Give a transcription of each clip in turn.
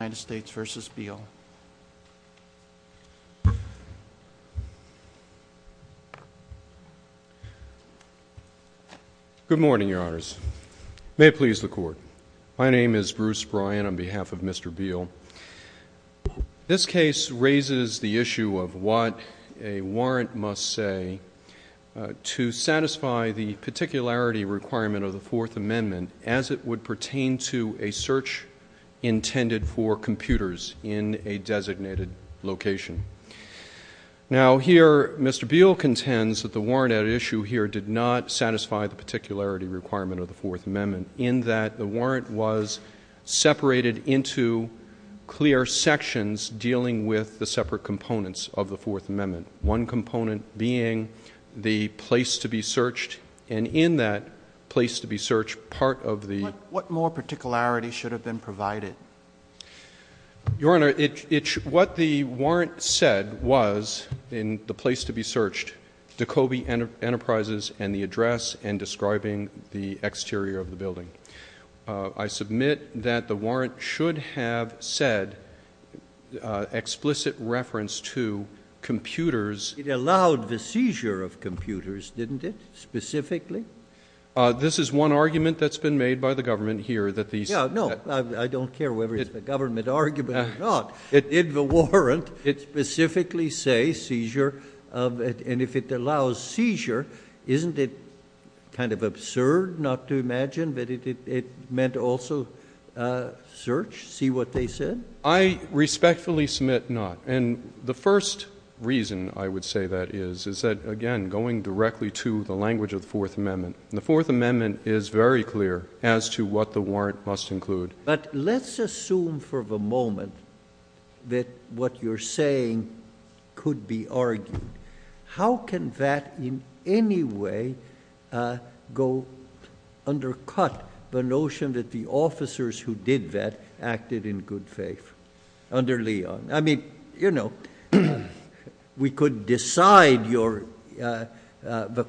Good morning, your honors. May it please the court. My name is Bruce Bryan on behalf of Mr. Beale. This case raises the issue of what a warrant must say to satisfy the particularity requirement of the Fourth Amendment as it would pertain to a search intended for computers in a designated location. Now, here Mr. Beale contends that the warrant at issue here did not satisfy the particularity requirement of the Fourth Amendment in that the warrant was separated into clear sections dealing with the separate components of the Fourth Amendment. The warrant should have said in the place to be searched part of the ‑‑ What more particularity should have been provided? Your honor, what the warrant said was in the place to be searched, Dekoby Enterprises and the address and describing the exterior of the building. I submit that the warrant should have said explicit reference to computers ‑‑ It allowed the seizure of computers, didn't it, specifically? This is one argument that's been made by the government here that these ‑‑ Yeah, no, I don't care whether it's a government argument or not. It did the warrant. It specifically say seizure of ‑‑ and if it allows seizure, isn't it kind of absurd not to imagine that it meant also search, see what they said? I respectfully submit not. And the first reason I would say that is, is that, again, going directly to the language of the Fourth Amendment. And the Fourth Amendment is very clear as to what the warrant must include. But let's assume for the moment that what you're saying could be argued. How can that in any way go undercut the notion that the officers who did that acted in good faith under Leon? I mean, you know, we could decide the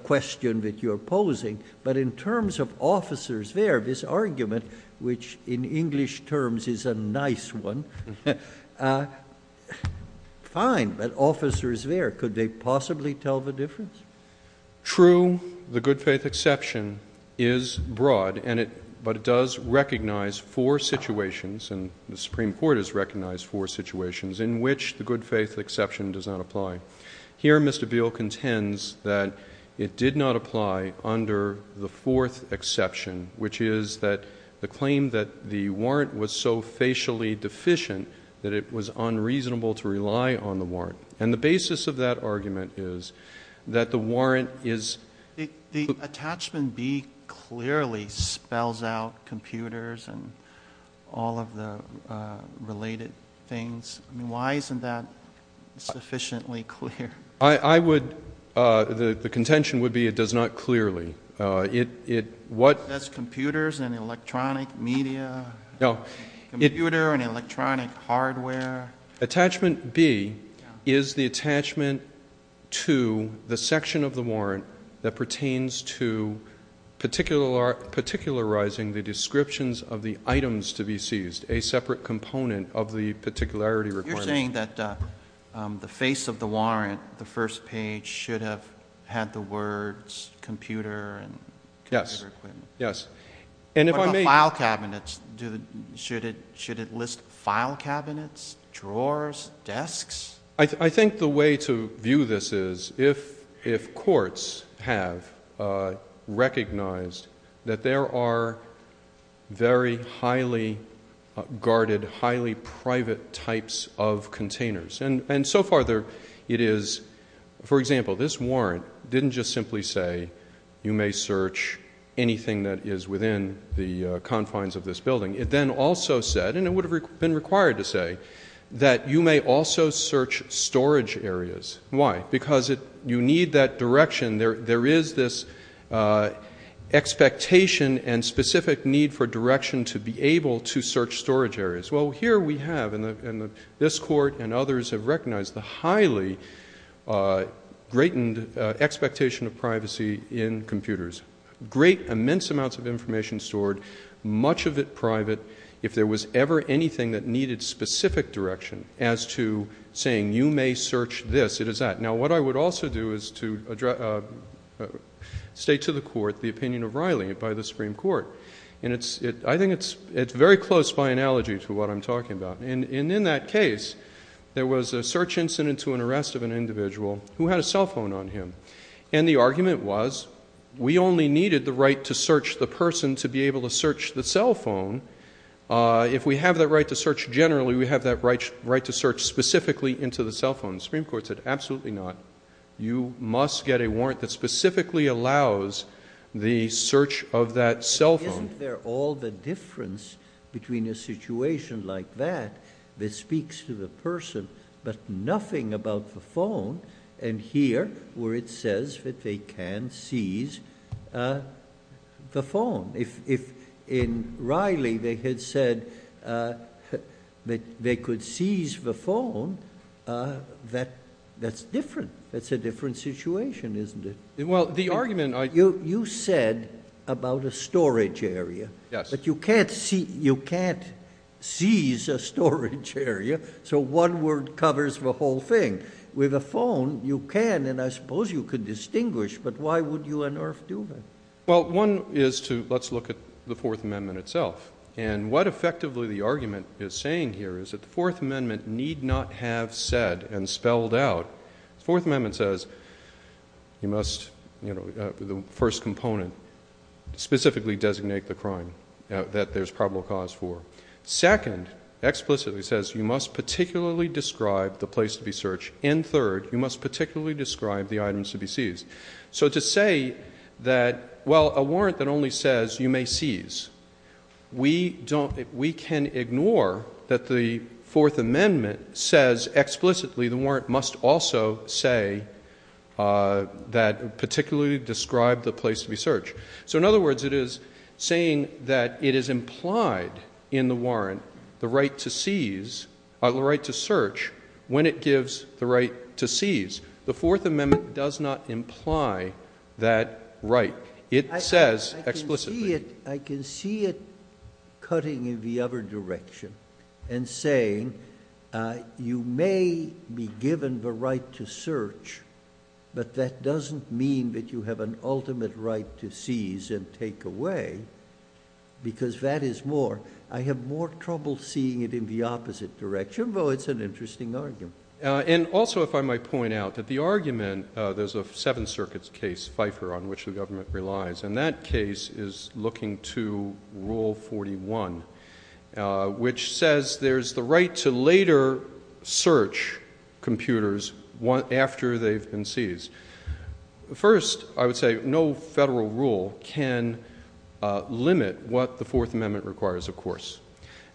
question that you're posing, but in terms of officers there, this argument, which in English terms is a nice one, fine, but officers there, could they possibly tell the difference? True, the good faith exception is broad, but it does recognize four situations, and the good faith exception does not apply. Here Mr. Beale contends that it did not apply under the fourth exception, which is that the claim that the warrant was so facially deficient that it was unreasonable to rely on the warrant. And the basis of that argument is that the warrant is ‑‑ The attachment B clearly spells out computers and all of the related things. I mean, why isn't that sufficiently clear? I would ‑‑ the contention would be it does not clearly. It does computers and electronic media, computer and electronic hardware. Attachment B is the attachment to the section of the warrant that pertains to particularizing the descriptions of the items to be seized, a separate component of the particularity requirement. You're saying that the face of the warrant, the first page, should have had the words computer and computer equipment. Yes, yes. What about file cabinets? Should it list file cabinets, drawers, desks? I think the way to view this is if courts have recognized that there are very highly guarded, highly private types of containers, and so far it is, for example, this warrant didn't just simply say you may search anything that is within the confines of this building. It then also said, and it would have been required to say, that you may also search storage areas. Why? Because you need that direction. There is this expectation and specific need for direction to be able to search storage areas. Well, here we have, and this court and others have recognized the highly greatened expectation of privacy in computers. Great, immense amounts of information stored, much of it private. If there was ever anything that needed specific direction as to saying you may search this, it is that. Now, what I would also do is to state to the court the opinion of Riley by the Supreme Court. I think it is very close by analogy to what I am talking about. In that case, there was a search incident to an arrest of an individual who had a cell phone on him. The argument was we only needed the right to search the person to be able to search the cell phone. If we have that right to search generally, we have that right to search specifically into the cell phone. The Supreme Court said absolutely not. You must get a warrant that specifically allows the search of that cell phone. Isn't there all the difference between a situation like that that speaks to the person but nothing about the phone and here where it says that they can seize the phone? If in Riley they had said that they could seize the phone, that's different. That's a different situation, isn't it? Well, the argument I You said about a storage area. Yes. But you can't seize a storage area, so one word covers the whole thing. With a phone, you can and I suppose you could distinguish, but why would you on earth do that? Well, one is to, let's look at the Fourth Amendment itself. What effectively the argument is saying here is that the Fourth Amendment need not have said and spelled out, the Fourth you must, the first component, specifically designate the crime that there's probable cause for. Second, explicitly says you must particularly describe the place to be searched and third, you must particularly describe the items to be seized. So to say that, well, a warrant that only says you may seize, we don't, we can ignore that the Fourth Amendment says explicitly the warrant must also say that particularly describe the place to be searched. So in other words, it is saying that it is implied in the warrant, the right to seize, the right to search, when it gives the right to seize. The Fourth Amendment does not imply that right. It says explicitly. I can see it cutting in the other direction and saying, uh, you may be given the right to search, but that doesn't mean that you have an ultimate right to seize and take away because that is more, I have more trouble seeing it in the opposite direction, but it's an interesting argument. And also if I might point out that the argument, uh, there's a seven circuits case, Pfeiffer on which the government relies. And that case is looking to rule 41, uh, which says there's the right to later search computers after they've been seized. The first, I would say no federal rule can, uh, limit what the Fourth Amendment requires. Of course,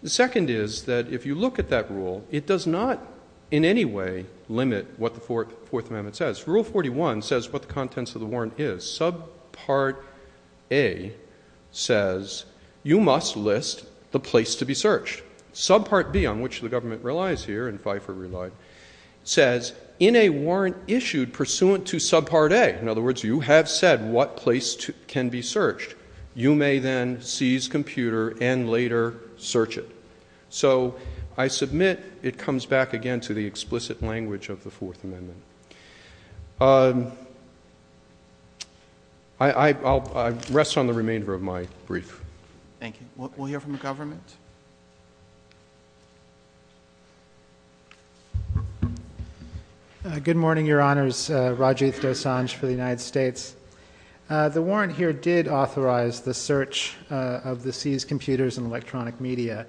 the second is that if you look at that rule, it does not in any way limit what the Fourth Amendment says. Rule 41 says what the contents of the warrant is. Subpart A says you must list the place to be searched. Subpart B on which the government relies here and Pfeiffer relied says in a warrant issued pursuant to subpart A, in other words, you have said what place can be searched. You may then seize computer and later search it. So I submit it comes back again to the explicit language of the Fourth Amendment. Um, I, I, I'll, I rest on the remainder of my brief. Thank you. We'll hear from the government. Uh, good morning, your honors, uh, Rajiv Dosanjh for the United States. Uh, the warrant here did authorize the search, uh, of the seized computers and electronic media.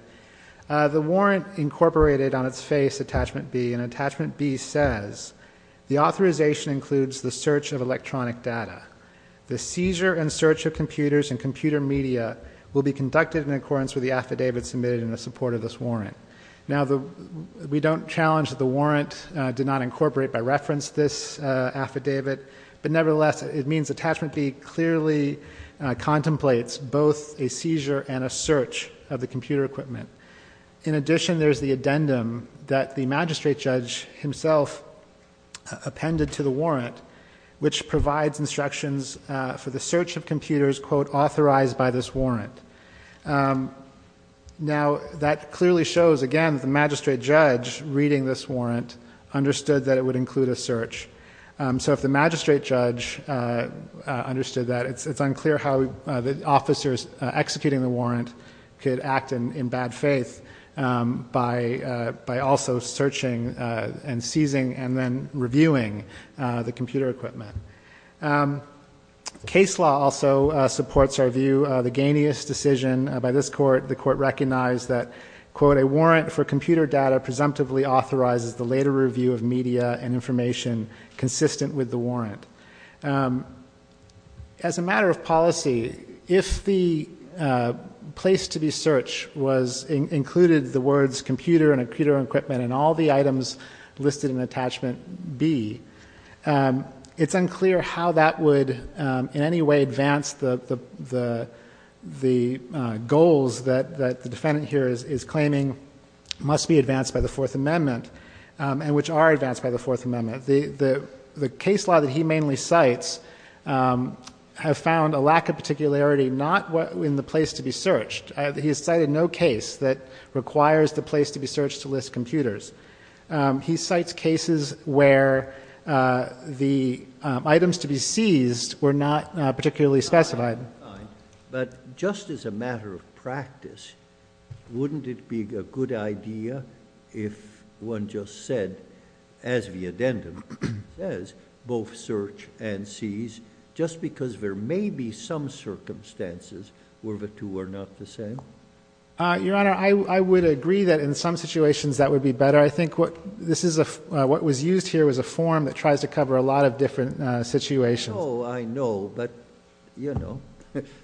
Uh, the warrant incorporated on its face attachment B and attachment B says the authorization includes the search of electronic data. The seizure and search of computers and computer media will be conducted in accordance with the affidavit submitted in the support of this warrant. Now the, we don't challenge that the warrant, uh, did not incorporate by reference this, uh, affidavit, but nevertheless it means attachment B clearly contemplates both a seizure and a search of computer equipment. In addition, there's the addendum that the magistrate judge himself appended to the warrant, which provides instructions, uh, for the search of computers, quote, authorized by this warrant. Um, now that clearly shows again, the magistrate judge reading this warrant understood that it would include a search. Um, so if the magistrate judge, uh, uh, understood that it's, it's unclear how, uh, the officers executing the warrant could act in, in bad faith, um, by, uh, by also searching, uh, and seizing and then reviewing, uh, the computer equipment. Um, case law also supports our view of the gainiest decision by this court. The court recognized that quote, a warrant for computer data presumptively authorizes the later review of media and information consistent with the warrant. Um, as a matter of policy, if the, uh, place to be search was included the words computer and a computer equipment and all the items listed in attachment B, um, it's unclear how that would, um, in any way advance the, the, the, uh, goals that, that the defendant here is, is claiming must be advanced by the fourth amendment, um, and which are advanced by the fourth amendment. The, the, the case law that he mainly cites, um, have found a lack of particularity, not what in the place to be searched. He has cited no case that requires the place to be searched to list computers. Um, he cites cases where, uh, the, um, items to be seized were not particularly specified. But just as a matter of practice, wouldn't it be a good idea if one just said, as the addendum says, both search and seize just because there may be some circumstances where the two are not the same? Uh, Your Honor, I, I would agree that in some situations that would be better. I think what this is a, uh, what was used here was a form that tries to cover a lot of different, uh, situations. Oh, I know. But you know,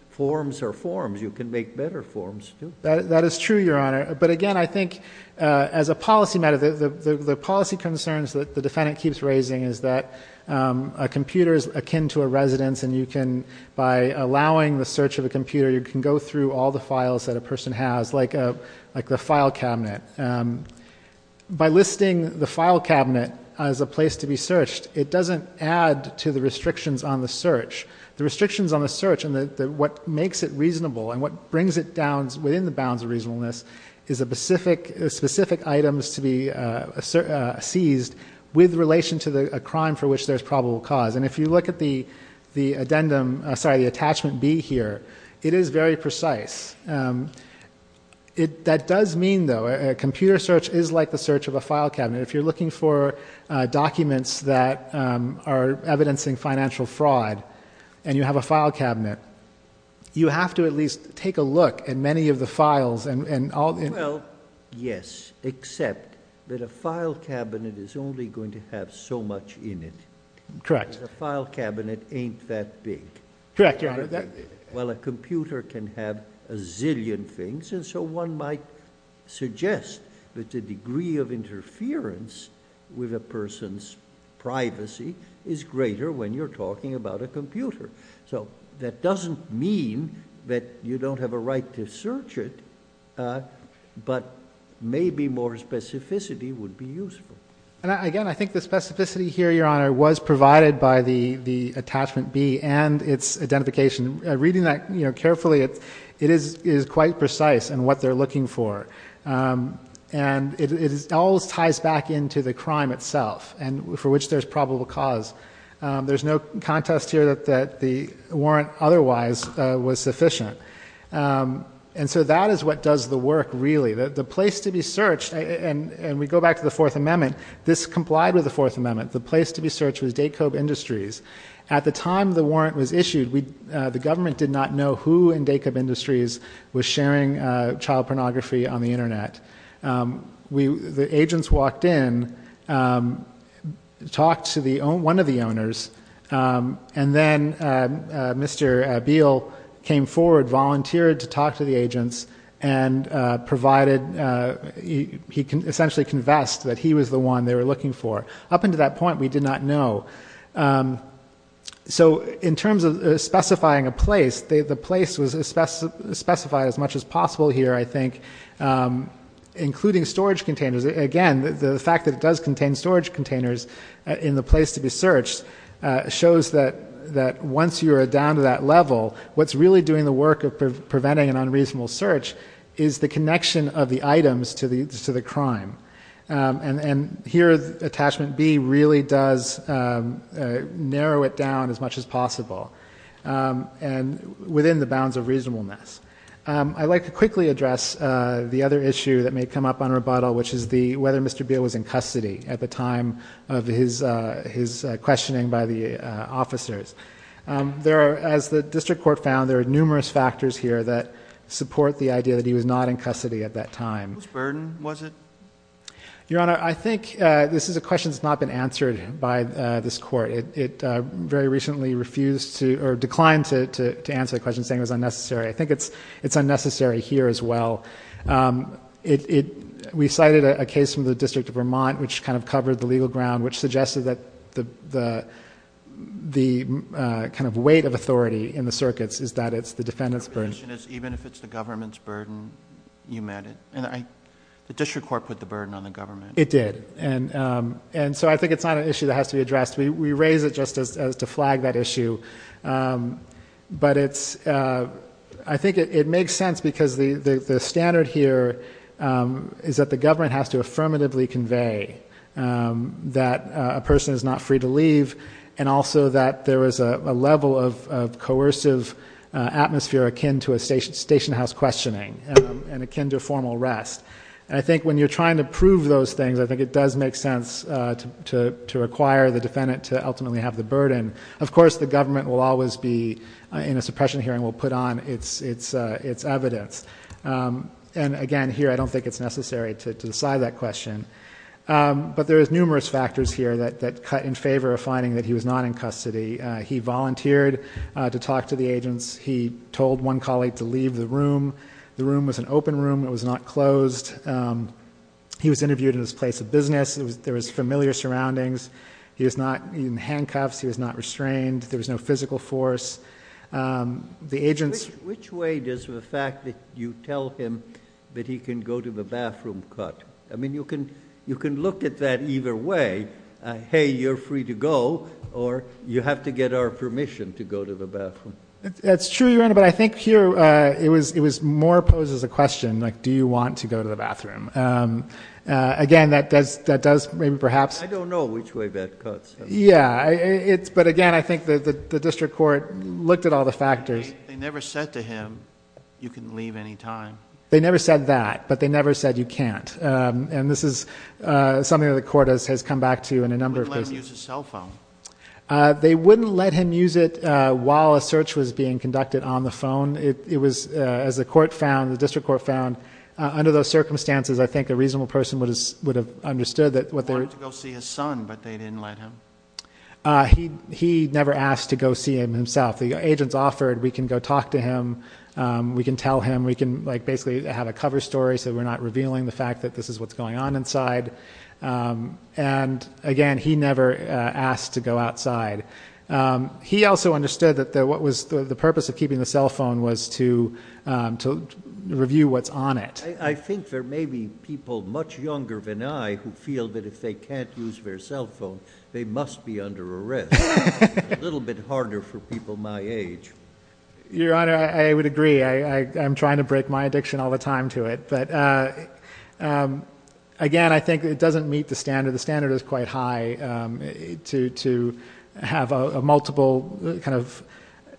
forms are forms. You can make better forms too. That is true, Your Honor. But again, I think, uh, as a policy matter, the, the, the, the policy concerns that the defendant keeps raising is that, um, a computer is akin to a residence and you can, by allowing the search of a computer, you can go through all the files that a person has like a, like the file cabinet. Um, by listing the file cabinet as a place to be on the search, the restrictions on the search and the, the, what makes it reasonable and what brings it down within the bounds of reasonableness is a specific, specific items to be, uh, seized with relation to the crime for which there's probable cause. And if you look at the, the addendum, uh, sorry, the attachment B here, it is very precise. Um, it, that does mean though, a computer search is like the search of a file cabinet. If you're looking for documents that, um, are evidencing financial fraud and you have a file cabinet, you have to at least take a look at many of the files and, and all. Well, yes, except that a file cabinet is only going to have so much in it. Correct. A file cabinet ain't that big. Correct. Well, a computer can have a zillion things. And so one might suggest that the degree of interference with a person's privacy is greater when you're talking about a computer. So that doesn't mean that you don't have a right to search it. Uh, but maybe more specificity would be useful. And I, again, I think the specificity here, your honor was provided by the, the attachment B and its identification. Reading that carefully, it, it is, is quite precise in what they're looking for. Um, and it is, it always ties back into the crime itself and for which there's probable cause. Um, there's no contest here that, that the warrant otherwise was sufficient. Um, and so that is what does the work really. The, the place to be searched and, and we go back to the fourth amendment, this complied with the fourth amendment. The place to be searched was Daycobe Industries. At the time the warrant was issued, we, uh, the government did not know who in Daycobe Industries was sharing, uh, child pornography on the internet. Um, we, the agents walked in, um, talked to the own, one of the owners. Um, and then, uh, uh, Mr. Beale came forward, volunteered to talk to the agents and, uh, provided, uh, he, he can essentially confessed that he was the one they were looking for. Up until that point, we did not know. Um, so in terms of specifying a place, the, the place was as specified as much as possible here, I think, um, including storage containers. Again, the fact that it does contain storage containers in the place to be searched, uh, shows that, that once you are down to that level, what's really doing the work of preventing an unreasonable search is the connection of the items to the, to the crime. Um, and, and here attachment B really does, um, uh, narrow it down as much as possible. Um, and within the bounds of reasonableness. Um, I'd like to quickly address, uh, the other issue that may come up on rebuttal, which is the, whether Mr. Beale was in custody at the time of his, uh, his, uh, questioning by the, uh, officers. Um, there are, as the district court found, there are numerous factors here that support the idea that he was not in custody at that time. Whose burden was it? Your Honor, I think, uh, this is a question that's not been answered by, uh, this court. It, it, uh, very recently refused to, or declined to, to, to answer the question saying it was unnecessary. I think it's, it's unnecessary here as well. Um, it, it, we cited a case from the district of Vermont, which kind of covered the legal ground, which suggested that the, the, the, uh, kind of weight of authority in the circuits is that it's the defendant's burden. Even if it's the government's burden, you meant it. And I, the district court put the burden on the government. It did. And, um, and so I think it's not an issue that has to be addressed. We, we raise it just as, as to flag that issue. Um, but it's, uh, I think it, it makes sense because the, the, the standard here, um, is that the government has to affirmatively convey, um, that a person is not free to leave. And also that there is a level of, of coercive, uh, atmosphere akin to a station station house questioning, um, and akin to formal rest. And I think when you're trying to prove those things, I think it does make sense, uh, to, to, to require the defendant to ultimately have the burden. Of course, the government will always be in a suppression hearing. We'll put on it's, it's, uh, it's evidence. Um, and again, here, I don't think it's necessary to decide that question. Um, but there is numerous factors here that, that cut in favor of finding that he was not in custody. Uh, he volunteered, uh, to talk to the agents. He told one colleague to leave the room. The room was an open room. It was not closed. Um, he was interviewed in his place of business. It was, there was familiar surroundings. He was not in handcuffs. He was not restrained. There was no physical force. Um, the agents, which way does the fact that you tell him that he can go to the bathroom cut? I mean, you can, you can look at that either way. Hey, you're free to go or you have to get our permission to go to the bathroom. That's true. But I think here, uh, it was, it was more poses a question like, do you want to go to the bathroom? Um, uh, again, that does, that does maybe perhaps, I don't know which way that cuts. Yeah, it's, but again, I think that the district court looked at all the factors. They never said to him, you can leave any time. They never said that, but they never said you can't. Um, and this is, uh, something that the court has, has come back to in a number of cases, cell phone. Uh, they wouldn't let him use it. Uh, while a search was being conducted on the phone, it was, uh, as the court found, the district court found, uh, under those circumstances, I think a reasonable person would have understood that what they were to go see his son, but they didn't let him. Uh, he, he never asked to go see him himself. The agents offered, we can go talk to him. Um, we can tell him, we can like basically have a cover story so that we're not revealing the fact that this is what's going on inside. Um, and again, he never asked to go outside. Um, he also understood that the, what was the purpose of keeping the cell phone was to, um, to review what's on it. I think there may be people much younger than I who feel that if they can't use their cell phone, they must be under arrest a little bit harder for people my age. Your honor, I would agree. I, I, I'm trying to break my addiction all the time to it. But, uh, um, again, I think it doesn't meet the standard. The standard is quite high, um, to, to have a multiple kind of,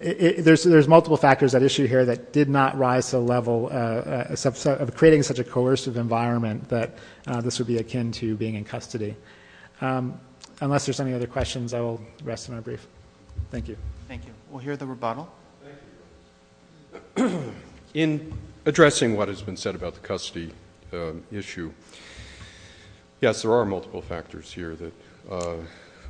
there's, there's multiple factors that issue here that did not rise to the level, uh, uh, subset of creating such a coercive environment that, uh, this would be akin to being in custody. Um, unless there's any other questions, I will rest of my brief. Thank you. Thank you. We'll hear the rebuttal in addressing what has been said about the custody, um, issue. Yes, there are multiple factors here that, uh,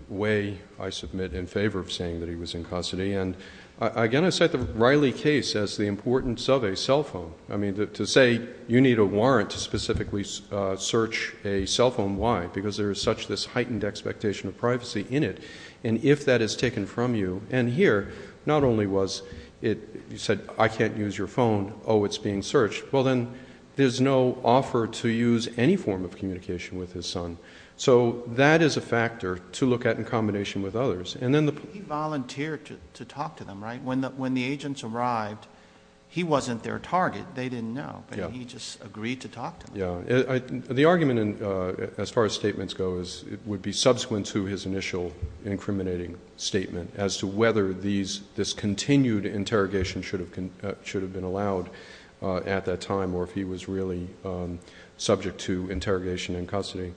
way I submit in favor of saying that he was in custody. And I, again, I set the Riley case as the importance of a cell phone. I mean, to say you need a warrant to specifically search a cell phone. Why? Because there is such this heightened expectation of privacy in it. And if that is taken from you and here, not only was it, you said, I can't use your phone. Oh, it's being searched. Well then there's no offer to use any form of communication with his son. So that is a factor to look at in combination with others. And then the volunteer to, to talk to them, right? When the, when the agents arrived, he wasn't their target. They didn't know, but he just agreed to talk to them. The argument in, uh, as far as statements go is it would be subsequent to his initial incriminating statement as to whether these, this continued interrogation should have, should have been allowed, uh, at that time, or if he was really, um, subject to interrogation in custody.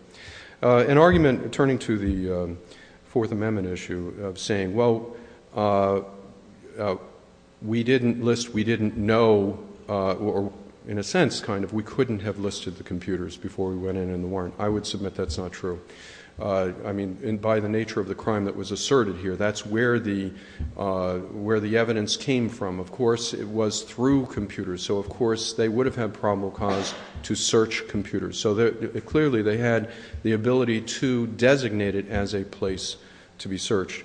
Uh, an argument turning to the, um, fourth amendment issue of saying, well, uh, uh, we didn't list, we didn't know, uh, or in a sense kind of, we couldn't have listed the computers before we went in, in the warrant. I would submit that's not true. Uh, I mean, and by the nature of the crime that was asserted here, that's where the, uh, where the evidence came from. Of course it was through computers. So of course they would have had probable cause to search computers. So clearly they had the ability to designate it as a place to be searched.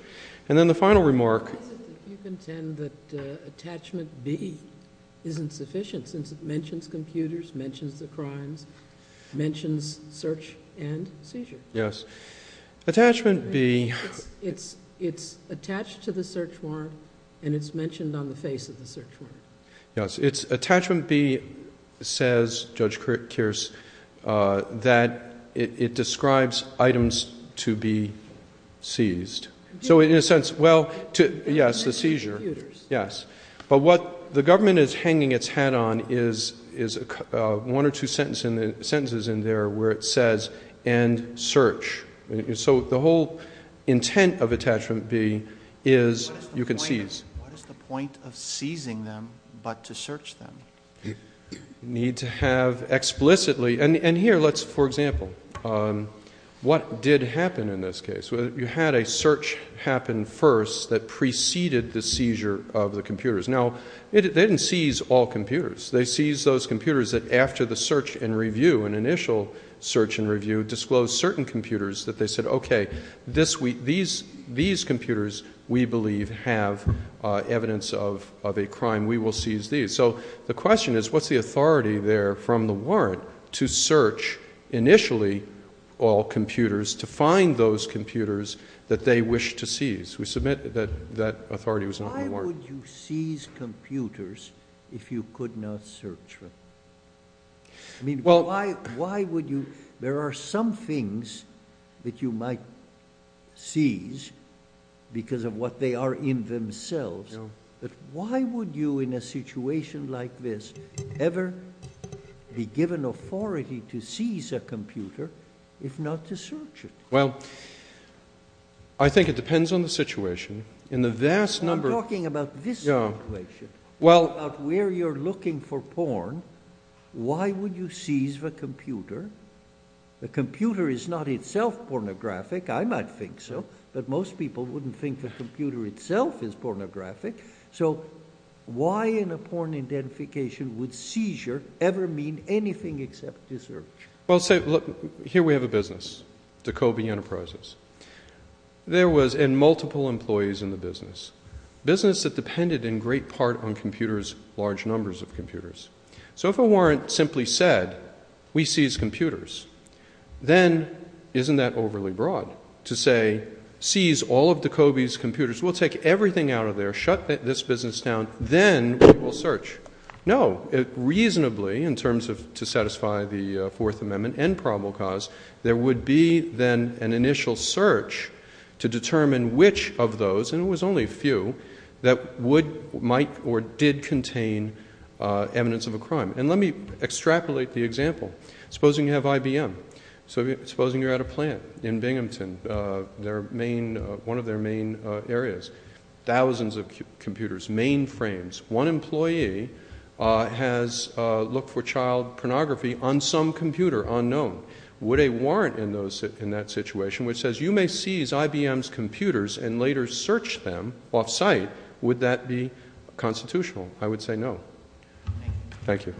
And then the final remark. Why is it that you contend that, uh, attachment B isn't sufficient since it mentions computers, mentions the crimes, mentions search and seizure? Yes. Attachment B. It's, it's, it's attached to the search warrant and it's mentioned on the face of the search warrant. Yes. It's attachment B says, Judge Kearse, uh, that it, it describes items to be seized. So in a sense, well, to, yes, the seizure. Yes. But what the government is hanging its hat on is, is, uh, one or two sentence in the sentences in there where it says and search. So the whole intent of attachment B is you can seize. What is the point of seizing them, but to search them? Need to have explicitly, and here let's, for example, um, what did happen in this case where you had a search happen first that preceded the seizure of the computers. Now it didn't seize all computers. They seized those computers that after the search and review and initial search and review disclosed certain computers that they said, okay, this week, these, these computers we believe have, uh, evidence of, of a crime. We will seize these. So the question is what's the authority there from the warrant to search initially all computers to find those computers that they wish to seize. We submit that that authority was not in the warrant. Why would you seize computers if you could not search them? I mean, why, why would you, there are some things that you might seize because of what they are in themselves, but why would you in a situation like this ever be given authority to seize a computer if not to search it? Well, I think it depends on the situation. In the vast number of... I'm talking about this situation, about where you're looking for porn. Why would you seize the computer? The computer is not itself pornographic. I might think so, but most people wouldn't think the computer itself is pornographic. So why in a porn identification would seizure ever mean anything except to search? Well, say, look, here we have a business, Dekobi Enterprises. There was, and multiple employees in the business, business that depended in great part on computers, large numbers of computers. So if a warrant simply said, we seize computers, then isn't that overly broad to say, seize all of Dekobi's computers, we'll take everything out of there, shut this business down, then we will search. No, it reasonably, in terms of to satisfy the Fourth Amendment and probable cause, there would be then an initial search to determine which of those, and it was only a few, that would, might, or did contain evidence of a crime. And let me extrapolate the example. Supposing you have IBM. Supposing you're at a plant in Binghamton, their main, one of their main areas. Thousands of computers, mainframes. One employee has looked for child pornography on some computer unknown. Would a warrant in those, in that situation, which says, you may seize IBM's computers and later search them off-site, would that be constitutional? I would say no. Thank you.